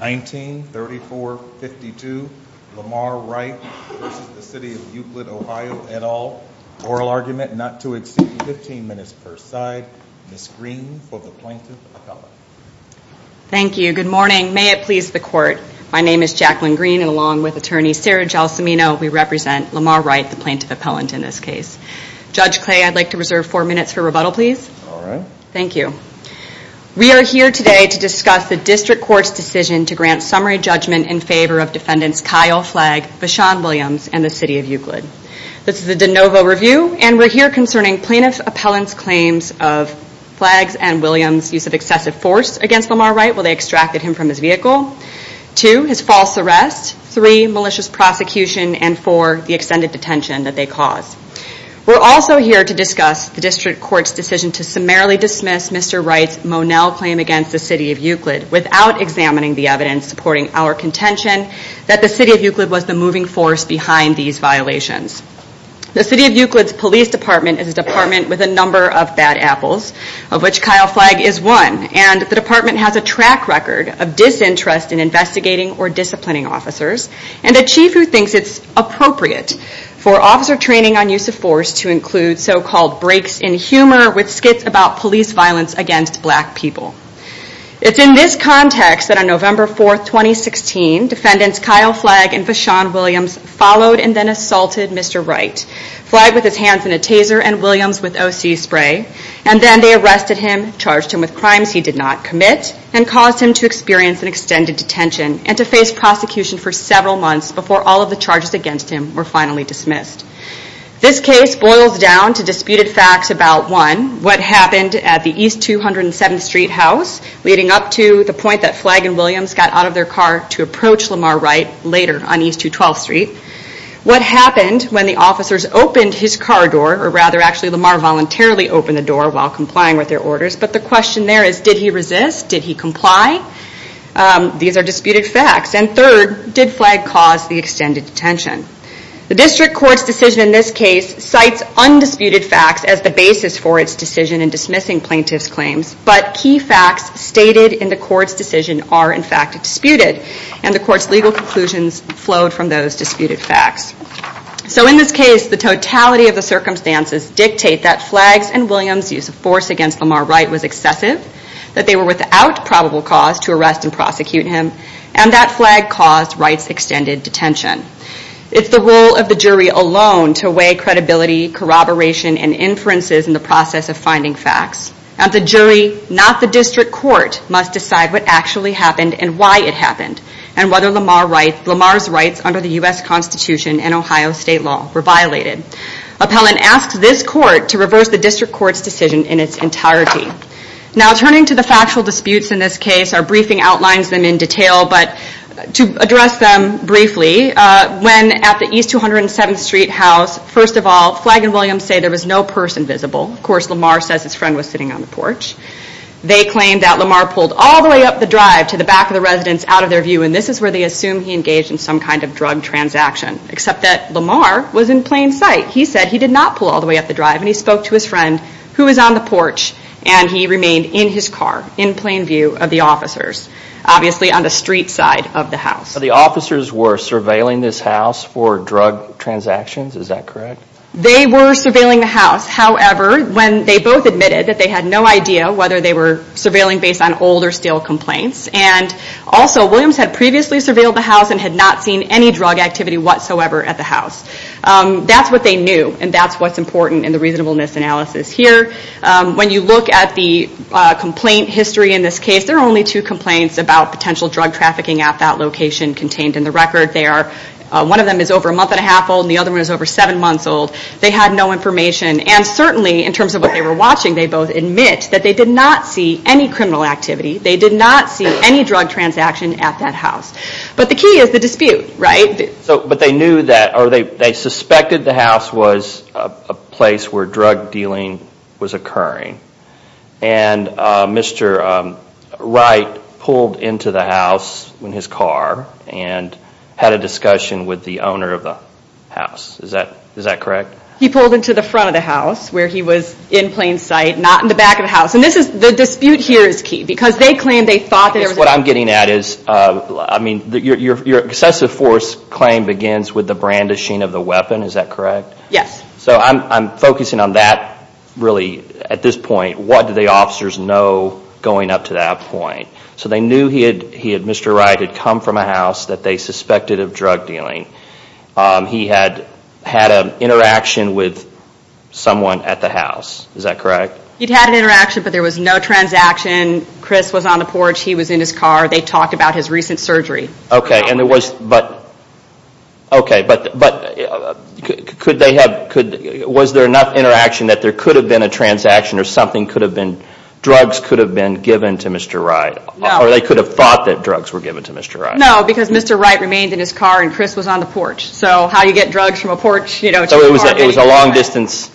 1934-52 Lamar Wright v. City of Euclid, Ohio, et al. Oral argument not to exceed 15 minutes per side. Ms. Green for the Plaintiff Appellant. Thank you. Good morning. May it please the Court, my name is Jacqueline Green and along with Attorney Sarah Gelsomino we represent Lamar Wright, the Plaintiff Appellant in this case. Judge Clay, I'd like to reserve four minutes for rebuttal please. All right. Thank you. We are here today to discuss the District Court's decision to grant summary judgment in favor of defendants Kyle Flagg, Vashon Williams, and the City of Euclid. This is a de novo review and we're here concerning Plaintiff Appellant's claims of Flagg's and Williams' use of excessive force against Lamar Wright while they extracted him from his vehicle. Two, his false arrest. Three, malicious prosecution. And four, the extended detention that they caused. We're also here to discuss the District Court's decision to summarily dismiss Mr. Wright's Monell claim against the City of Euclid without examining the evidence supporting our contention that the City of Euclid was the moving force behind these violations. The City of Euclid's Police Department is a department with a number of bad apples, of which Kyle Flagg is one, and the department has a track record of disinterest in investigating or disciplining officers and a chief who thinks it's appropriate for officer training on use of force to include so-called breaks in humor with skits about police violence against black people. It's in this context that on November 4, 2016, defendants Kyle Flagg and Vashon Williams followed and then assaulted Mr. Wright. Flagg with his hands in a taser and Williams with O.C. spray. And then they arrested him, charged him with crimes he did not commit, and caused him to experience an extended detention and to face prosecution for several months before all of the charges against him were finally dismissed. This case boils down to disputed facts about, one, what happened at the East 207th Street house leading up to the point that Flagg and Williams got out of their car to approach Lamar Wright later on East 212th Street. What happened when the officers opened his car door, or rather actually Lamar voluntarily opened the door while complying with their orders, but the question there is did he resist? Did he comply? These are disputed facts. And third, did Flagg cause the extended detention? The district court's decision in this case cites undisputed facts as the basis for its decision in dismissing plaintiff's claims, but key facts stated in the court's decision are in fact disputed. And the court's legal conclusions flowed from those disputed facts. So in this case, the totality of the circumstances dictate that Flagg's and Williams' use of force against Lamar Wright was excessive, that they were without probable cause to arrest and prosecute him, and that Flagg caused Wright's extended detention. It's the role of the jury alone to weigh credibility, corroboration, and inferences in the process of finding facts. At the jury, not the district court must decide what actually happened and why it happened, and whether Lamar's rights under the U.S. Constitution and Ohio state law were violated. Appellant asks this court to reverse the district court's decision in its entirety. Now turning to the factual disputes in this case, our briefing outlines them in detail, but to address them briefly, when at the East 207th Street house, first of all, Flagg and Williams say there was no person visible. Of course, Lamar says his friend was sitting on the porch. They claim that Lamar pulled all the way up the drive to the back of the residence out of their view, and this is where they assume he engaged in some kind of drug transaction, except that Lamar was in plain sight. He said he did not pull all the way up the drive, and he spoke to his friend who was on the porch, and he remained in his car in plain view of the officers, obviously on the street side of the house. The officers were surveilling this house for drug transactions, is that correct? They were surveilling the house. However, when they both admitted that they had no idea whether they were surveilling based on old or still complaints, and also Williams had previously surveilled the house and had not seen any drug activity whatsoever at the house. That's what they knew, and that's what's important in the reasonableness analysis here. When you look at the complaint history in this case, there are only two complaints about potential drug trafficking at that location contained in the record. One of them is over a month and a half old, and the other one is over seven months old. They had no information, and certainly in terms of what they were watching, they both admit that they did not see any criminal activity. They did not see any drug transaction at that house, but the key is the dispute, right? They suspected the house was a place where drug dealing was occurring, and Mr. Wright pulled into the house in his car and had a discussion with the owner of the house. Is that correct? He pulled into the front of the house where he was in plain sight, not in the back of the house. The dispute here is key because they claimed they thought that there was a... What I'm getting at is your excessive force claim begins with the brandishing of the weapon. Is that correct? Yes. I'm focusing on that really at this point. What do the officers know going up to that point? They knew Mr. Wright had come from a house that they suspected of drug dealing. He had had an interaction with someone at the house. Is that correct? He'd had an interaction, but there was no transaction. Chris was on the porch. He was in his car. They talked about his recent surgery. Okay, but was there enough interaction that there could have been a transaction or drugs could have been given to Mr. Wright? No. Or they could have thought that drugs were given to Mr. Wright? No, because Mr. Wright remained in his car and Chris was on the porch. So how do you get drugs from a porch to a car? It was a long distance,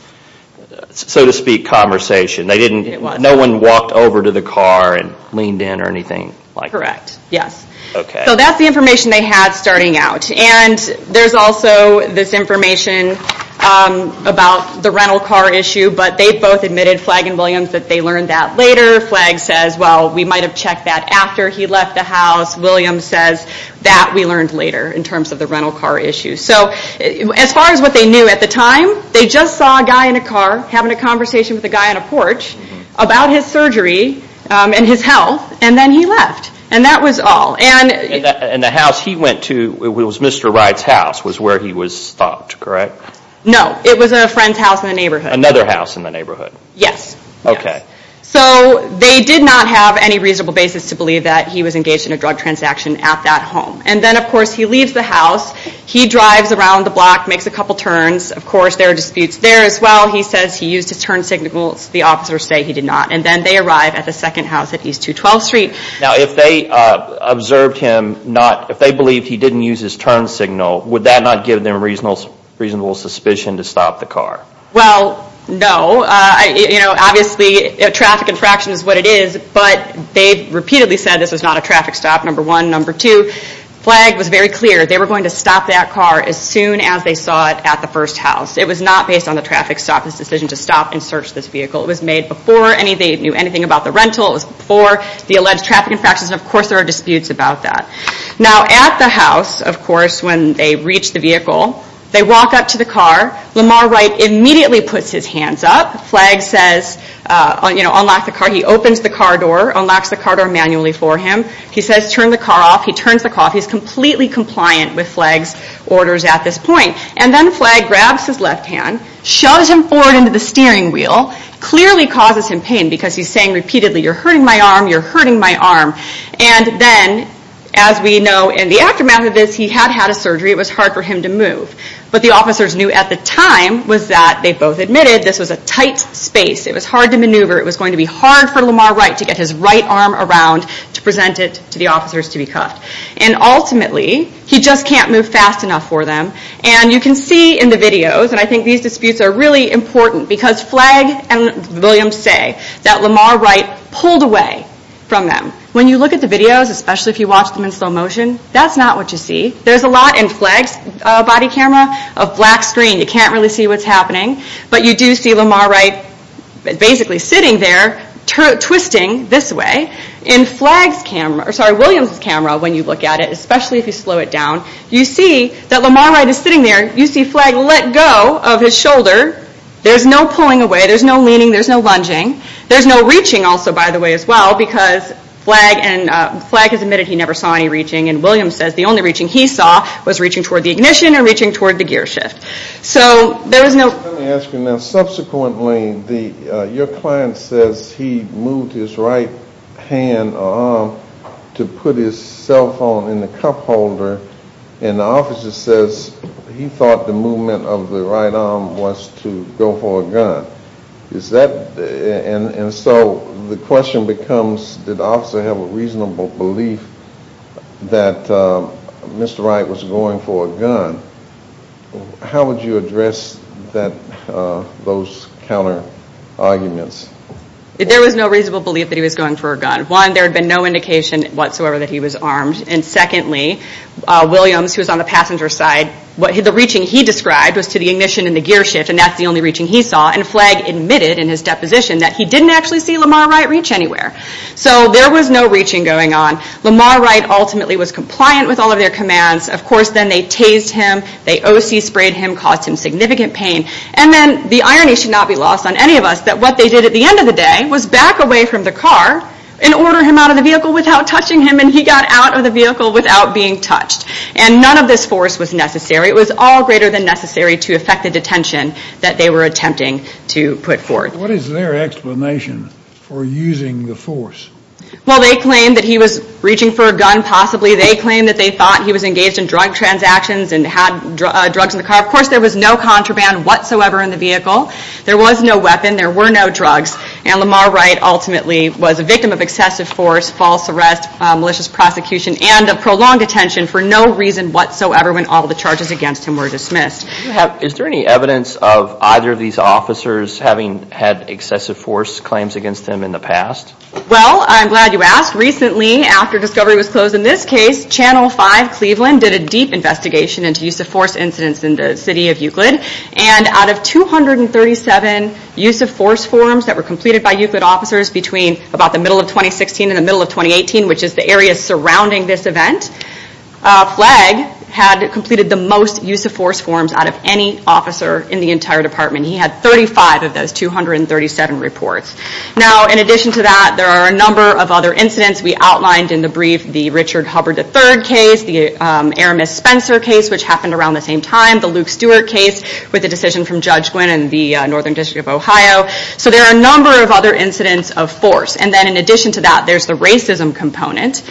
so to speak, conversation. No one walked over to the car and leaned in or anything? Correct, yes. So that's the information they had starting out. There's also this information about the rental car issue, but they both admitted, Flagg and Williams, that they learned that later. Flagg says, well, we might have checked that after he left the house. Williams says, that we learned later in terms of the rental car issue. So as far as what they knew at the time, they just saw a guy in a car having a conversation with a guy on a porch about his surgery and his health, and then he left. And that was all. And the house he went to, it was Mr. Wright's house, was where he was stopped, correct? No, it was a friend's house in the neighborhood. Another house in the neighborhood? Yes. Okay. So they did not have any reasonable basis to believe that he was engaged in a drug transaction at that home. And then, of course, he leaves the house. He drives around the block, makes a couple turns. Of course, there are disputes there as well. He says he used his turn signal. The officers say he did not. And then they arrive at the second house at East 212th Street. Now, if they observed him not, if they believed he didn't use his turn signal, would that not give them reasonable suspicion to stop the car? Well, no. Obviously, a traffic infraction is what it is, but they repeatedly said this was not a traffic stop, number one. Number two, Flagg was very clear. They were going to stop that car as soon as they saw it at the first house. It was not based on the traffic stop, this decision to stop and search this vehicle. It was made before they knew anything about the rental. It was before the alleged traffic infractions. Of course, there are disputes about that. Now, at the house, of course, when they reach the vehicle, they walk up to the car. Lamar Wright immediately puts his hands up. Flagg says, you know, unlock the car. He opens the car door, unlocks the car door manually for him. He says, turn the car off. He turns the car off. He's completely compliant with Flagg's orders at this point. And then Flagg grabs his left hand, shoves him forward into the steering wheel, clearly causes him pain because he's saying repeatedly, you're hurting my arm, you're hurting my arm. And then, as we know, in the aftermath of this, he had had a surgery. It was hard for him to move. What the officers knew at the time was that, they both admitted, this was a tight space. It was hard to maneuver. It was going to be hard for Lamar Wright to get his right arm around to present it to the officers to be cuffed. And ultimately, he just can't move fast enough for them. And you can see in the videos, and I think these disputes are really important, because Flagg and Williams say that Lamar Wright pulled away from them. When you look at the videos, especially if you watch them in slow motion, that's not what you see. There's a lot in Flagg's body camera of black screen. You can't really see what's happening. But you do see Lamar Wright basically sitting there, twisting this way. In Williams' camera, when you look at it, especially if you slow it down, you see that Lamar Wright is sitting there. You see Flagg let go of his shoulder. There's no pulling away. There's no leaning. There's no lunging. There's no reaching also, by the way, as well, because Flagg has admitted he never saw any reaching. And Williams says the only reaching he saw was reaching toward the ignition or reaching toward the gear shift. Let me ask you now. Subsequently, your client says he moved his right hand or arm to put his cell phone in the cup holder, and the officer says he thought the movement of the right arm was to go for a gun. And so the question becomes, did the officer have a reasonable belief that Mr. Wright was going for a gun? How would you address those counter-arguments? There was no reasonable belief that he was going for a gun. One, there had been no indication whatsoever that he was armed. And secondly, Williams, who was on the passenger side, the reaching he described was to the ignition and the gear shift, and that's the only reaching he saw. And Flagg admitted in his deposition that he didn't actually see Lamar Wright reach anywhere. So there was no reaching going on. Lamar Wright ultimately was compliant with all of their commands. Of course, then they tased him, they O.C. sprayed him, caused him significant pain. And then the irony should not be lost on any of us that what they did at the end of the day was back away from the car and order him out of the vehicle without touching him, and he got out of the vehicle without being touched. And none of this force was necessary. It was all greater than necessary to effect the detention that they were attempting to put forth. What is their explanation for using the force? Well, they claimed that he was reaching for a gun, possibly. They claimed that they thought he was engaged in drug transactions and had drugs in the car. Of course, there was no contraband whatsoever in the vehicle. There was no weapon. There were no drugs. And Lamar Wright ultimately was a victim of excessive force, false arrest, malicious prosecution, and a prolonged detention for no reason whatsoever when all of the charges against him were dismissed. Is there any evidence of either of these officers having had excessive force claims against them in the past? Well, I'm glad you asked. Recently, after discovery was closed in this case, Channel 5 Cleveland did a deep investigation into use-of-force incidents in the city of Euclid, and out of 237 use-of-force forms that were completed by Euclid officers between about the middle of 2016 and the middle of 2018, which is the area surrounding this event, Flagg had completed the most use-of-force forms out of any officer in the entire department. He had 35 of those 237 reports. Now, in addition to that, there are a number of other incidents. We outlined in the brief the Richard Hubbard III case, the Eramis Spencer case, which happened around the same time, the Luke Stewart case with the decision from Judge Gwynn and the Northern District of Ohio. So there are a number of other incidents of force. And then in addition to that, there's the racism component,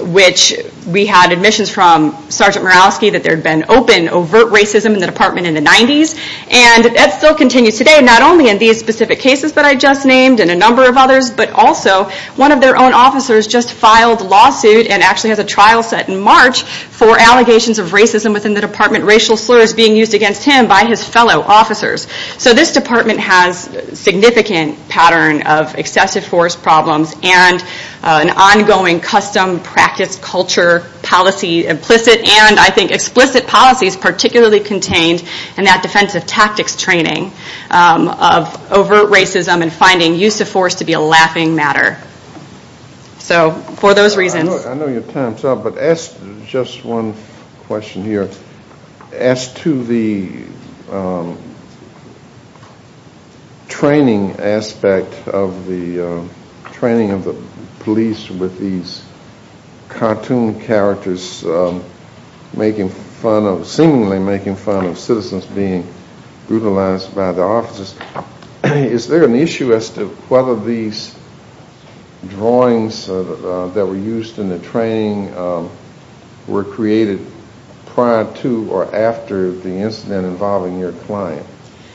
which we had admissions from Sergeant Mirowski that there had been open, overt racism in the department in the 90s, and that still continues today, not only in these specific cases that I just named and a number of others, but also one of their own officers just filed a lawsuit and actually has a trial set in March for allegations of racism within the department, racial slurs being used against him by his fellow officers. So this department has a significant pattern of excessive force problems and an ongoing custom, practice, culture, policy implicit, and I think explicit policies particularly contained in that defensive tactics training of overt racism and finding use of force to be a laughing matter. So for those reasons... I know your time's up, but just one question here. As to the training aspect of the training of the police with these cartoon characters seemingly making fun of citizens being brutalized by the officers, is there an issue as to whether these drawings that were used in the training were created prior to or after the incident involving your client?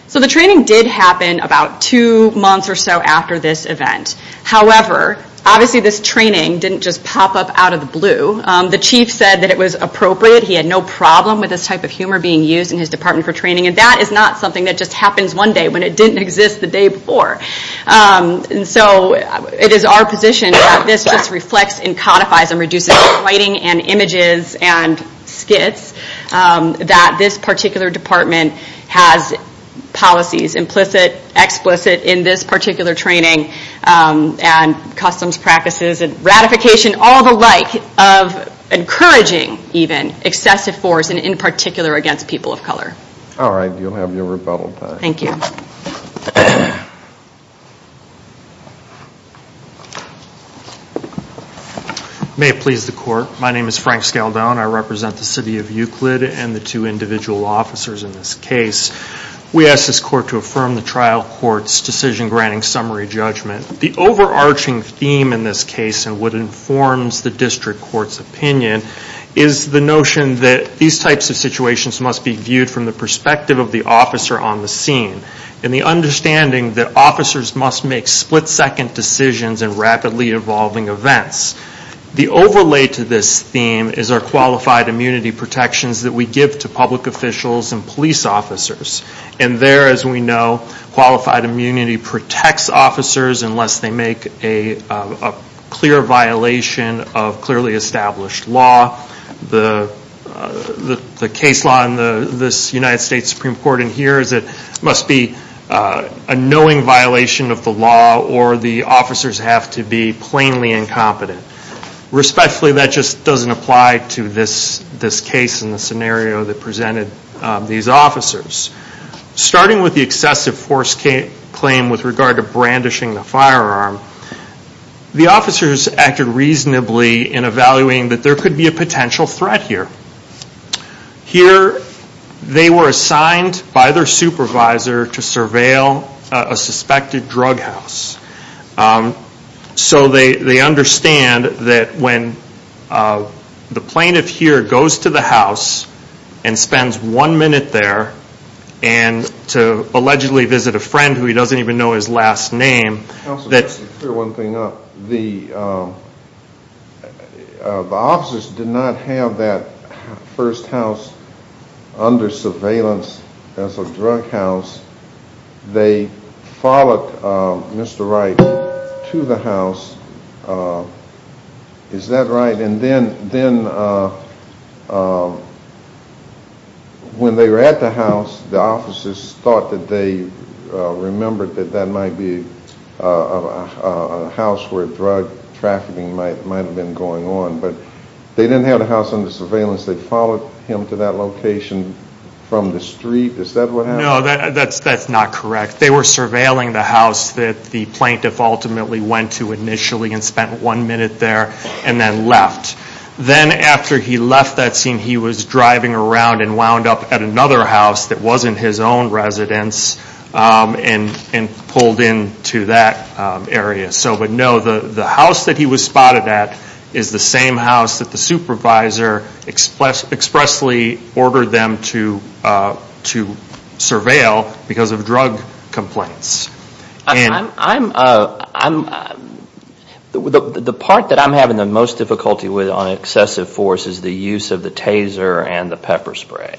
So the training did happen about two months or so after this event. However, obviously this training didn't just pop up out of the blue. The chief said that it was appropriate. He had no problem with this type of humor being used in his department for training, and that is not something that just happens one day when it didn't exist the day before. So it is our position that this just reflects and codifies and reduces the writing and images and skits that this particular department has policies implicit, explicit in this particular training and customs practices and ratification, all the like, of encouraging even excessive force and in particular against people of color. All right. You'll have your rebuttal time. Thank you. May it please the court. My name is Frank Scaldone. I represent the city of Euclid and the two individual officers in this case. We ask this court to affirm the trial court's decision granting summary judgment. The overarching theme in this case and what informs the district court's opinion is the notion that these types of situations must be viewed from the perspective of the officer on the scene and the understanding that officers must make split second decisions in rapidly evolving events. The overlay to this theme is our qualified immunity protections that we give to public officials and police officers. And there, as we know, qualified immunity protects officers unless they make a clear violation of clearly established law. The case law in this United States Supreme Court in here is it must be a knowing violation of the law or the officers have to be plainly incompetent. Respectfully, that just doesn't apply to this case and the scenario that presented these officers. Starting with the excessive force claim with regard to brandishing the firearm, the officers acted reasonably in evaluating that there could be a potential threat here. Here, they were assigned by their supervisor to surveil a suspected drug house. So they understand that when the plaintiff here goes to the house and spends one minute there and to allegedly visit a friend who he doesn't even know his last name. The officers did not have that first house under surveillance as a drug house. They followed Mr. Wright to the house. Is that right? And then when they were at the house, the officers thought that they remembered that that might be a house where drug trafficking might have been going on. But they didn't have the house under surveillance. They followed him to that location from the street. Is that what happened? No, that's not correct. They were surveilling the house that the plaintiff ultimately went to initially and spent one minute there and then left. Then after he left that scene, he was driving around and wound up at another house that wasn't his own residence and pulled into that area. So, but no, the house that he was spotted at is the same house that the supervisor expressly ordered them to surveil because of drug complaints. The part that I'm having the most difficulty with on excessive force is the use of the taser and the pepper spray.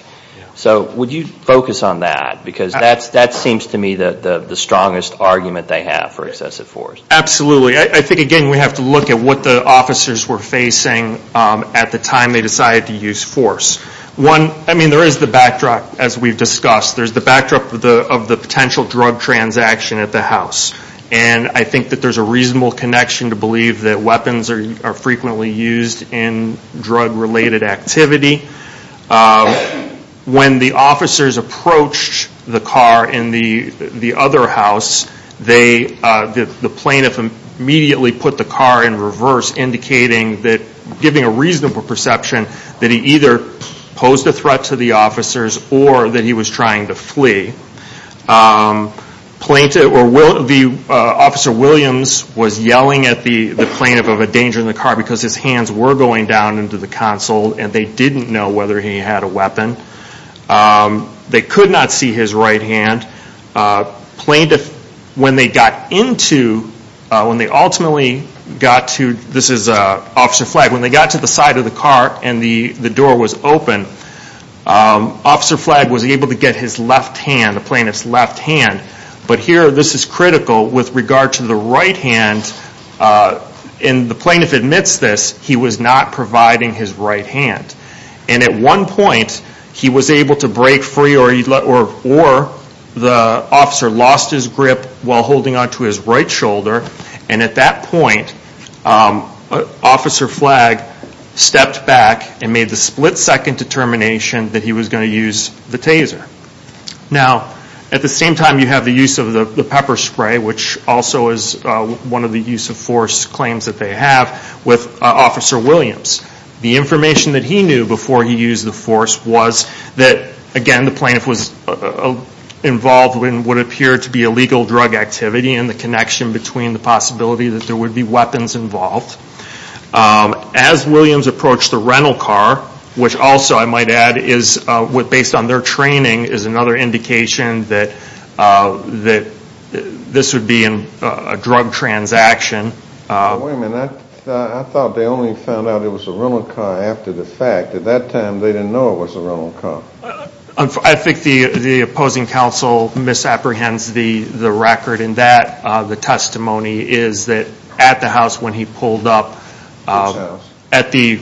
So would you focus on that? Because that seems to me the strongest argument they have for excessive force. Absolutely. I think, again, we have to look at what the officers were facing at the time they decided to use force. One, I mean, there is the backdrop, as we've discussed. There's the backdrop of the potential drug transaction at the house. And I think that there's a reasonable connection to believe that weapons are frequently used in drug-related activity. When the officers approached the car in the other house, the plaintiff immediately put the car in reverse, indicating that, giving a reasonable perception, that he either posed a threat to the officers or that he was trying to flee. Officer Williams was yelling at the plaintiff of a danger in the car because his hands were going down into the console and they didn't know whether he had a weapon. They could not see his right hand. Plaintiff, when they got into, when they ultimately got to, this is Officer Flagg, when they got to the side of the car and the door was open, Officer Flagg was able to get his left hand, the plaintiff's left hand. But here this is critical with regard to the right hand. And the plaintiff admits this. He was not providing his right hand. And at one point, he was able to break free or the officer lost his grip while holding onto his right shoulder. And at that point, Officer Flagg stepped back and made the split-second determination that he was going to use the taser. Now, at the same time, you have the use of the pepper spray, which also is one of the use-of-force claims that they have with Officer Williams. The information that he knew before he used the force was that, again, the plaintiff was involved in what appeared to be illegal drug activity and the connection between the possibility that there would be weapons involved. As Williams approached the rental car, which also, I might add, based on their training, is another indication that this would be a drug transaction. Wait a minute. I thought they only found out it was a rental car after the fact. At that time, they didn't know it was a rental car. I think the opposing counsel misapprehends the record in that the testimony is that at the house when he pulled up, at the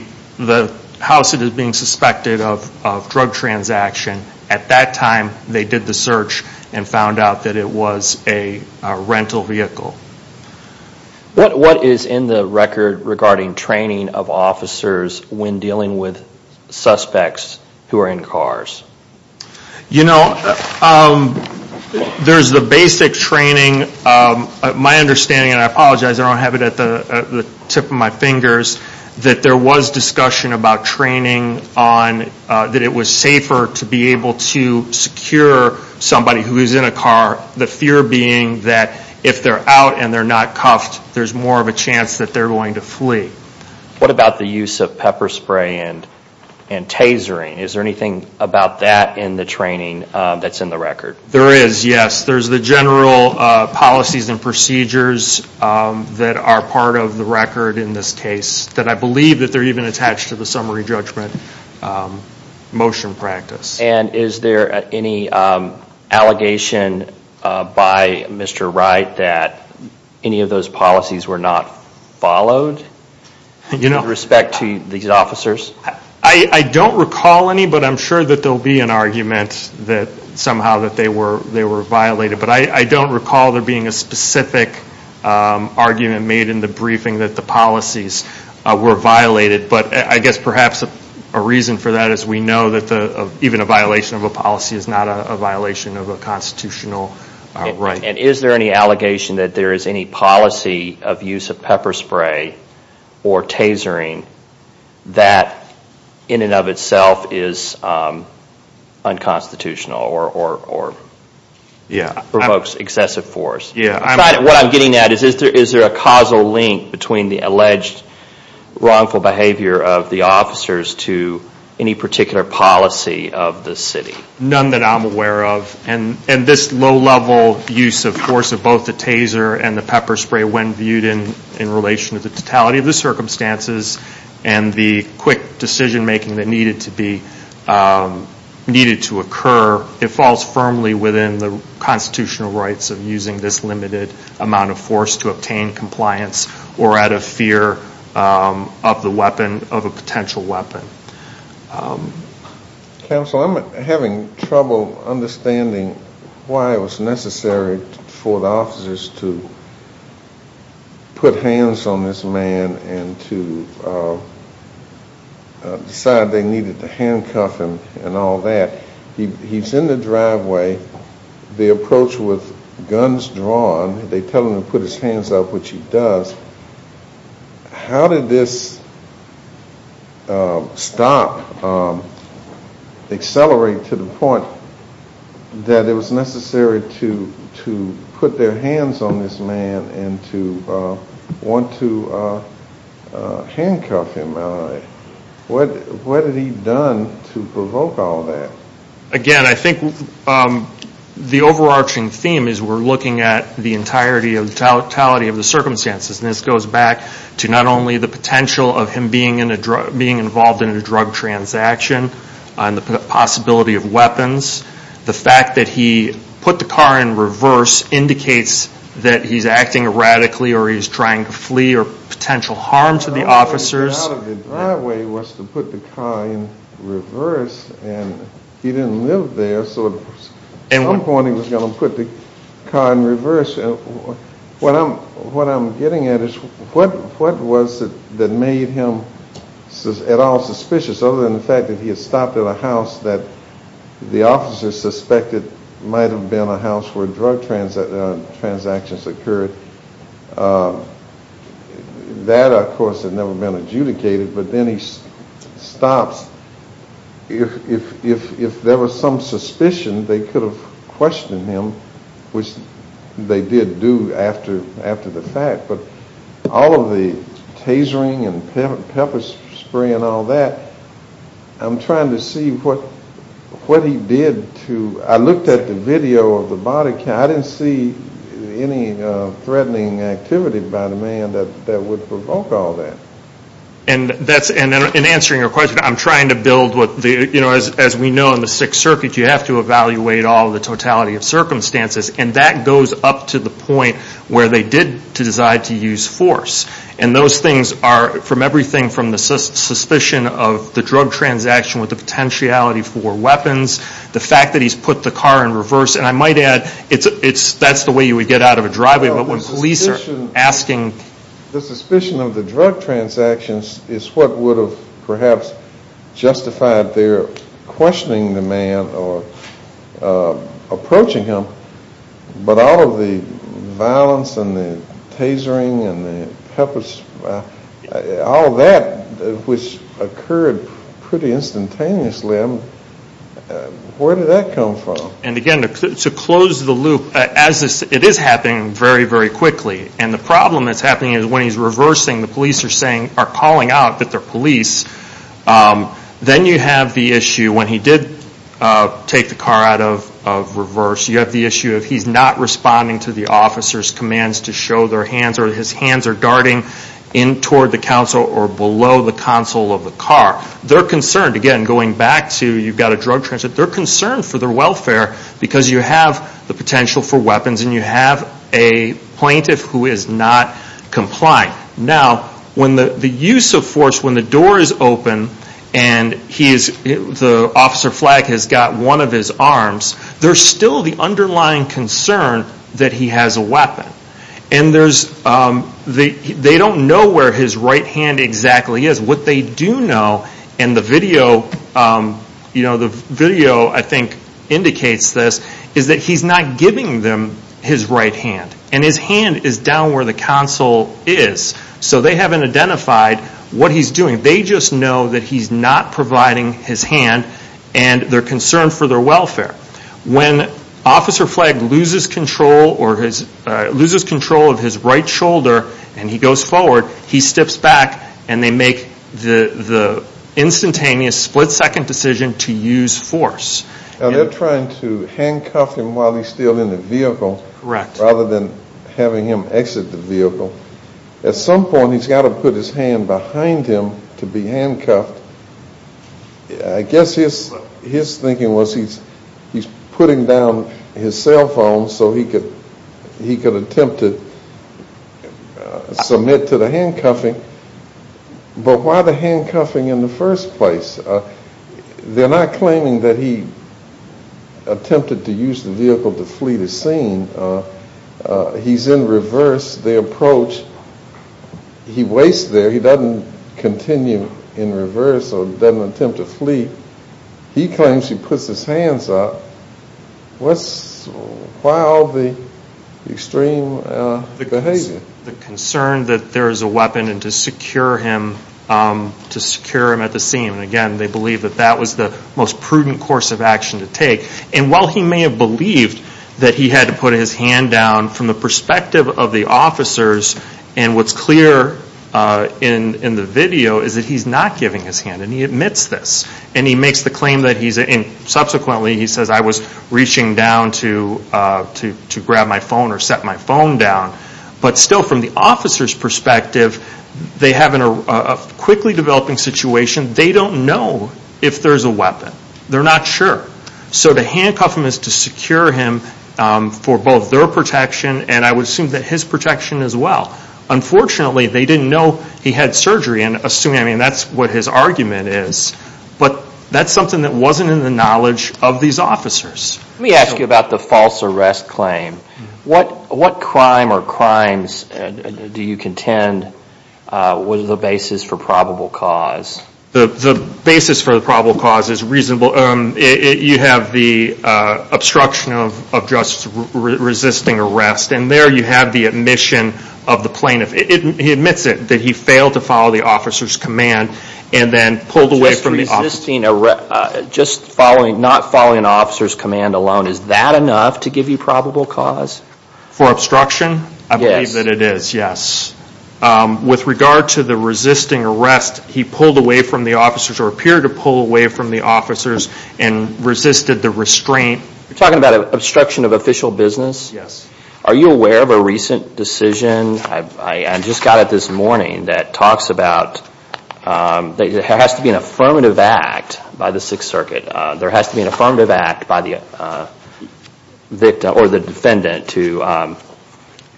house that is being suspected of drug transaction, at that time they did the search and found out that it was a rental vehicle. What is in the record regarding training of officers when dealing with suspects who are in cars? You know, there's the basic training. My understanding, and I apologize, I don't have it at the tip of my fingers, that there was discussion about training on that it was safer to be able to secure somebody who is in a car. The fear being that if they're out and they're not cuffed, there's more of a chance that they're going to flee. What about the use of pepper spray and tasering? Is there anything about that in the training that's in the record? There is, yes. There's the general policies and procedures that are part of the record in this case that I believe that they're even attached to the summary judgment motion practice. And is there any allegation by Mr. Wright that any of those policies were not followed with respect to these officers? I don't recall any, but I'm sure that there will be an argument that somehow they were violated. But I don't recall there being a specific argument made in the briefing that the policies were violated. But I guess perhaps a reason for that is we know that even a violation of a policy is not a violation of a constitutional right. And is there any allegation that there is any policy of use of pepper spray or tasering that in and of itself is unconstitutional or provokes excessive force? What I'm getting at is, is there a causal link between the alleged wrongful behavior of the officers to any particular policy of the city? None that I'm aware of. And this low-level use of force of both the taser and the pepper spray, when viewed in relation to the totality of the circumstances and the quick decision-making that needed to occur, it falls firmly within the constitutional rights of using this limited amount of force to obtain compliance or out of fear of the weapon, of a potential weapon. Counsel, I'm having trouble understanding why it was necessary for the officers to put hands on this man and to decide they needed to handcuff him and all that. He's in the driveway. They approach with guns drawn. They tell him to put his hands up, which he does. How did this stop, accelerate to the point that it was necessary to put their hands on this man and to want to handcuff him? What had he done to provoke all that? Again, I think the overarching theme is we're looking at the totality of the circumstances. And this goes back to not only the potential of him being involved in a drug transaction and the possibility of weapons. The fact that he put the car in reverse indicates that he's acting erratically or he's trying to flee or potential harm to the officers. The idea out of the driveway was to put the car in reverse and he didn't live there. So at some point he was going to put the car in reverse. What I'm getting at is what was it that made him at all suspicious other than the fact that he had stopped at a house that the officers suspected might have been a house where drug transactions occurred? That, of course, had never been adjudicated, but then he stops. If there was some suspicion, they could have questioned him, which they did do after the fact. But all of the tasering and pepper spray and all that, I'm trying to see what he did to... I looked at the video of the body count. I didn't see any threatening activity by the man that would provoke all that. And in answering your question, I'm trying to build what the... As we know in the Sixth Circuit, you have to evaluate all the totality of circumstances. And that goes up to the point where they did decide to use force. And those things are from everything from the suspicion of the drug transaction with the potentiality for weapons, the fact that he's put the car in reverse. And I might add that's the way you would get out of a driveway, but when police are asking... The suspicion of the drug transactions is what would have perhaps justified their questioning the man or approaching him, but all of the violence and the tasering and the pepper spray, all that which occurred pretty instantaneously, where did that come from? And again, to close the loop, it is happening very, very quickly. And the problem that's happening is when he's reversing, the police are calling out that they're police. Then you have the issue when he did take the car out of reverse, you have the issue of he's not responding to the officer's commands to show their hands or his hands are darting in toward the counsel or below the counsel of the car. They're concerned, again, going back to you've got a drug transaction, they're concerned for their welfare because you have the potential for weapons and you have a plaintiff who is not compliant. Now, when the use of force, when the door is open and the officer flag has got one of his arms, they don't know where his right hand exactly is. What they do know, and the video I think indicates this, is that he's not giving them his right hand. And his hand is down where the counsel is. So they haven't identified what he's doing. They just know that he's not providing his hand and they're concerned for their welfare. When officer flag loses control of his right shoulder and he goes forward, he steps back and they make the instantaneous split-second decision to use force. Now, they're trying to handcuff him while he's still in the vehicle rather than having him exit the vehicle. At some point he's got to put his hand behind him to be handcuffed. I guess his thinking was he's putting down his cell phone so he could attempt to submit to the handcuffing. But why the handcuffing in the first place? They're not claiming that he attempted to use the vehicle to flee the scene. He's in reverse. That's their approach. He waits there. He doesn't continue in reverse or doesn't attempt to flee. He claims he puts his hands up. Why all the extreme behavior? The concern that there is a weapon to secure him at the scene. Again, they believe that that was the most prudent course of action to take. And while he may have believed that he had to put his hand down from the perspective of the officers, and what's clear in the video is that he's not giving his hand and he admits this. And he makes the claim that he's, and subsequently he says, I was reaching down to grab my phone or set my phone down. But still from the officer's perspective they have a quickly developing situation. They don't know if there's a weapon. They're not sure. So to handcuff him is to secure him for both their protection and I would assume that his protection as well. Unfortunately, they didn't know he had surgery. I mean, that's what his argument is. But that's something that wasn't in the knowledge of these officers. Let me ask you about the false arrest claim. What crime or crimes do you contend was the basis for probable cause? The basis for the probable cause is reasonable. You have the obstruction of just resisting arrest. And there you have the admission of the plaintiff. He admits it, that he failed to follow the officer's command and then pulled away from the officer. Just following, not following an officer's command alone. Is that enough to give you probable cause? For obstruction? Yes. I believe that it is, yes. With regard to the resisting arrest, he pulled away from the officers or appeared to pull away from the officers and resisted the restraint. You're talking about obstruction of official business? Yes. Are you aware of a recent decision, I just got it this morning, that talks about there has to be an affirmative act by the Sixth Circuit. There has to be an affirmative act by the victim or the defendant to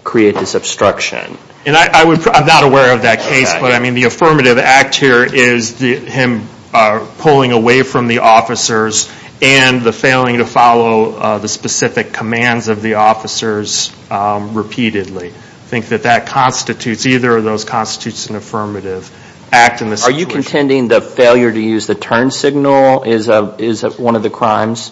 create this obstruction. I'm not aware of that case, but the affirmative act here is him pulling away from the officers and the failing to follow the specific commands of the officers repeatedly. I think that that constitutes, either of those constitutes an affirmative act in this situation. Are you contending the failure to use the turn signal is one of the crimes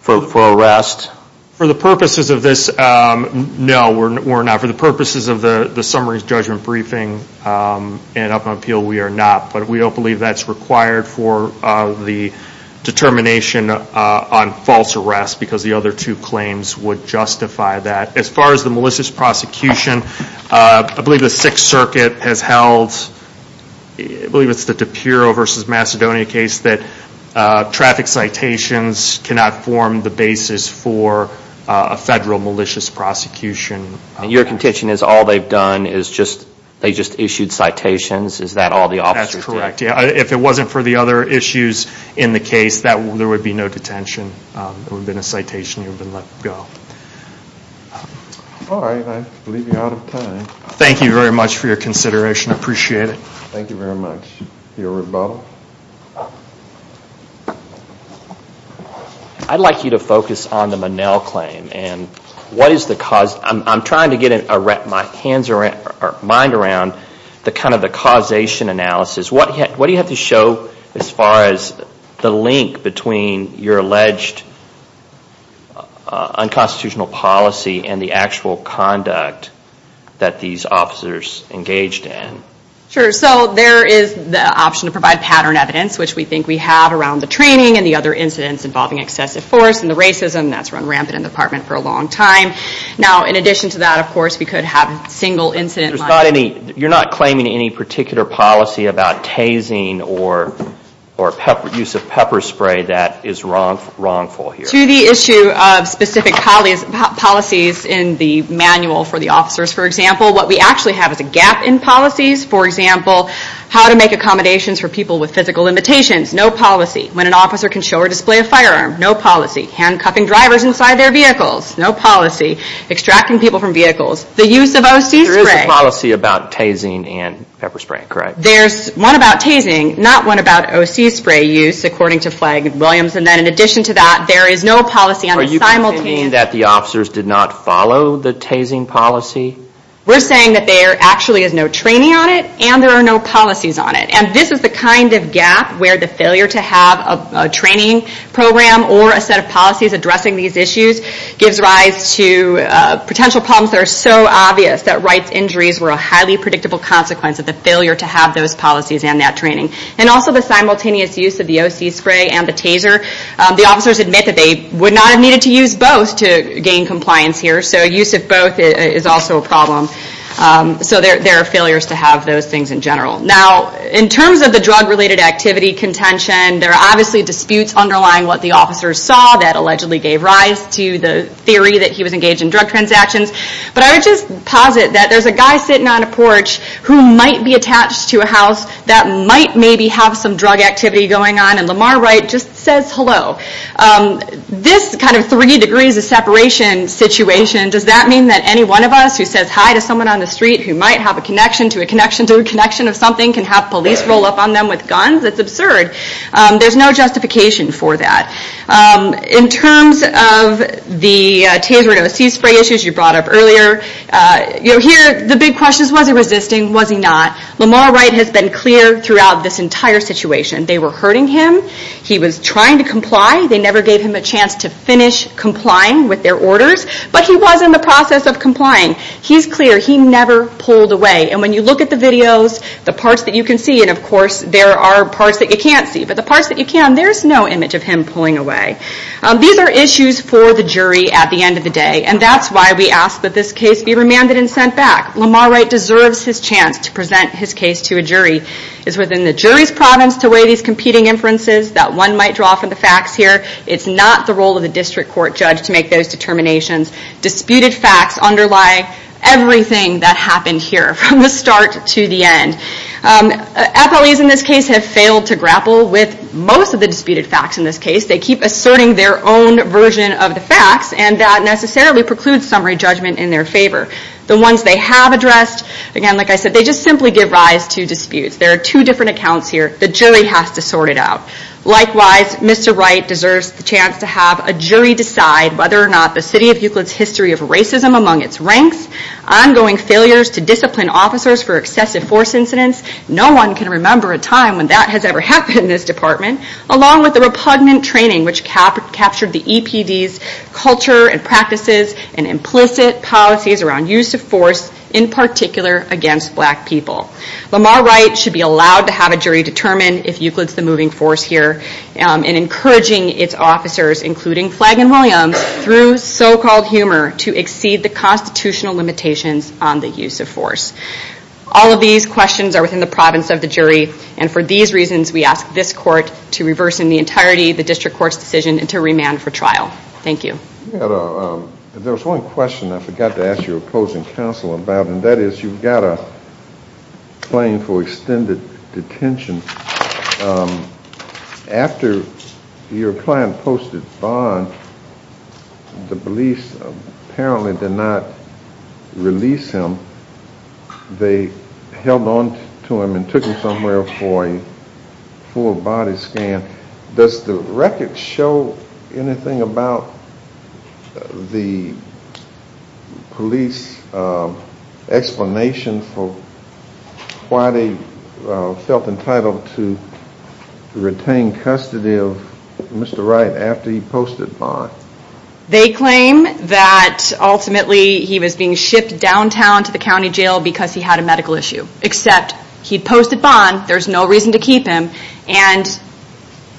for arrest? For the purposes of this, no, we're not. For the purposes of the summary judgment briefing and up on appeal, we are not, but we don't believe that's required for the determination on false arrest because the other two claims would justify that. As far as the malicious prosecution, I believe the Sixth Circuit has held, I believe it's the DiPiro v. Macedonia case, that traffic citations cannot form the basis for a federal malicious prosecution. Your contention is all they've done is they just issued citations? Is that all the officers did? That's correct. If it wasn't for the other issues in the case, there would be no detention. It would have been a citation and you would have been let go. All right, I believe you're out of time. Thank you very much for your consideration. I appreciate it. Thank you very much. Your rebuttal. I'd like you to focus on the Monell claim. I'm trying to get my mind around the causation analysis. What do you have to show as far as the link between your alleged unconstitutional policy and the actual conduct that these officers engaged in? Sure, so there is the option to provide pattern evidence, which we think we have around the training and the other incidents involving excessive force and the racism that's run rampant in the department for a long time. Now, in addition to that, of course, we could have single incident. You're not claiming any particular policy about tasing or use of pepper spray that is wrongful here? To the issue of specific policies in the manual for the officers, for example, what we actually have is a gap in policies. For example, how to make accommodations for people with physical limitations, no policy. When an officer can show or display a firearm, no policy. Handcuffing drivers inside their vehicles, no policy. Extracting people from vehicles. The use of O.C. spray. There is a policy about tasing and pepper spray, correct? There's one about tasing, not one about O.C. spray use, according to Flagg and Williams. And then in addition to that, there is no policy on the simultaneous. Are you saying that the officers did not follow the tasing policy? We're saying that there actually is no training on it and there are no policies on it. And this is the kind of gap where the failure to have a training program or a set of policies addressing these issues gives rise to potential problems that are so obvious that rights injuries were a highly predictable consequence of the failure to have those policies and that training. And also the simultaneous use of the O.C. spray and the taser. The officers admit that they would not have needed to use both to gain compliance here. So use of both is also a problem. So there are failures to have those things in general. Now in terms of the drug related activity contention, there are obviously disputes underlying what the officers saw that allegedly gave rise to the theory that he was engaged in drug transactions. But I would just posit that there's a guy sitting on a porch who might be attached to a house that might maybe have some drug activity going on and Lamar Wright just says hello. This kind of three degrees of separation situation, does that mean that any one of us who says hi to someone on the street who might have a connection to a connection to a connection of something can have police roll up on them with guns? That's absurd. There's no justification for that. In terms of the taser and O.C. spray issues you brought up earlier, here the big question is was he resisting, was he not? Lamar Wright has been clear throughout this entire situation. They were hurting him. He was trying to comply. They never gave him a chance to finish complying with their orders. But he was in the process of complying. He's clear. He never pulled away. And when you look at the videos, the parts that you can see, and of course there are parts that you can't see, but the parts that you can, there's no image of him pulling away. These are issues for the jury at the end of the day. And that's why we ask that this case be remanded and sent back. Lamar Wright deserves his chance to present his case to a jury. It's within the jury's province to weigh these competing inferences that one might draw from the facts here. It's not the role of the district court judge to make those determinations. Disputed facts underlie everything that happened here from the start to the end. FLEs in this case have failed to grapple with most of the disputed facts in this case. They keep asserting their own version of the facts, and that necessarily precludes summary judgment in their favor. The ones they have addressed, again, like I said, they just simply give rise to disputes. There are two different accounts here. The jury has to sort it out. Likewise, Mr. Wright deserves the chance to have a jury decide whether or not the City of Euclid's history of racism among its ranks, ongoing failures to discipline officers for excessive force incidents, no one can remember a time when that has ever happened in this department, along with the repugnant training which captured the EPD's culture and practices and implicit policies around use of force, in particular against black people. Lamar Wright should be allowed to have a jury determine if Euclid's the moving force here and encouraging its officers, including Flagon Williams, through so-called humor to exceed the constitutional limitations on the use of force. All of these questions are within the province of the jury, and for these reasons we ask this court to reverse in the entirety the district court's decision and to remand for trial. Thank you. There was one question I forgot to ask your opposing counsel about, and that is you've got a claim for extended detention. After your client posted bond, the police apparently did not release him. They held on to him and took him somewhere for a full body scan. Does the record show anything about the police explanation for why they felt entitled to retain custody of Mr. Wright after he posted bond? They claim that ultimately he was being shipped downtown to the county jail because he had a medical issue, except he posted bond, there's no reason to keep him, and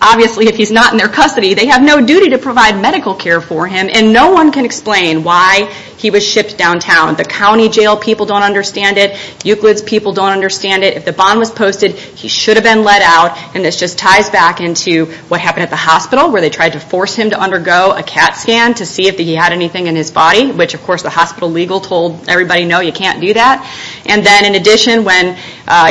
obviously if he's not in their custody, they have no duty to provide medical care for him, and no one can explain why he was shipped downtown. The county jail people don't understand it. Euclid's people don't understand it. If the bond was posted, he should have been let out, and this just ties back into what happened at the hospital where they tried to force him to undergo a CAT scan to see if he had anything in his body, which of course the hospital legal told everybody, no, you can't do that. And then in addition, when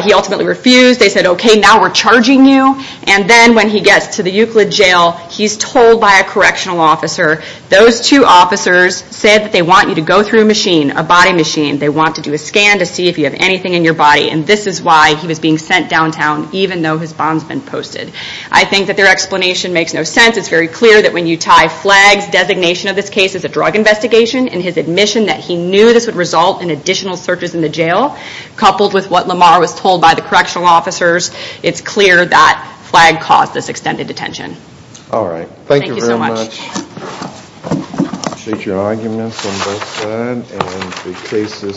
he ultimately refused, they said, okay, now we're charging you, and then when he gets to the Euclid jail, he's told by a correctional officer, those two officers said that they want you to go through a machine, a body machine, they want to do a scan to see if you have anything in your body, and this is why he was being sent downtown even though his bond's been posted. I think that their explanation makes no sense. It's very clear that when you tie flags, designation of this case as a drug investigation, and his admission that he knew this would result in additional searches in the jail, coupled with what Lamar was told by the correctional officers, it's clear that flag caused this extended detention. Alright, thank you very much. Thank you so much. Take your arguments on both sides, and the case is submitted.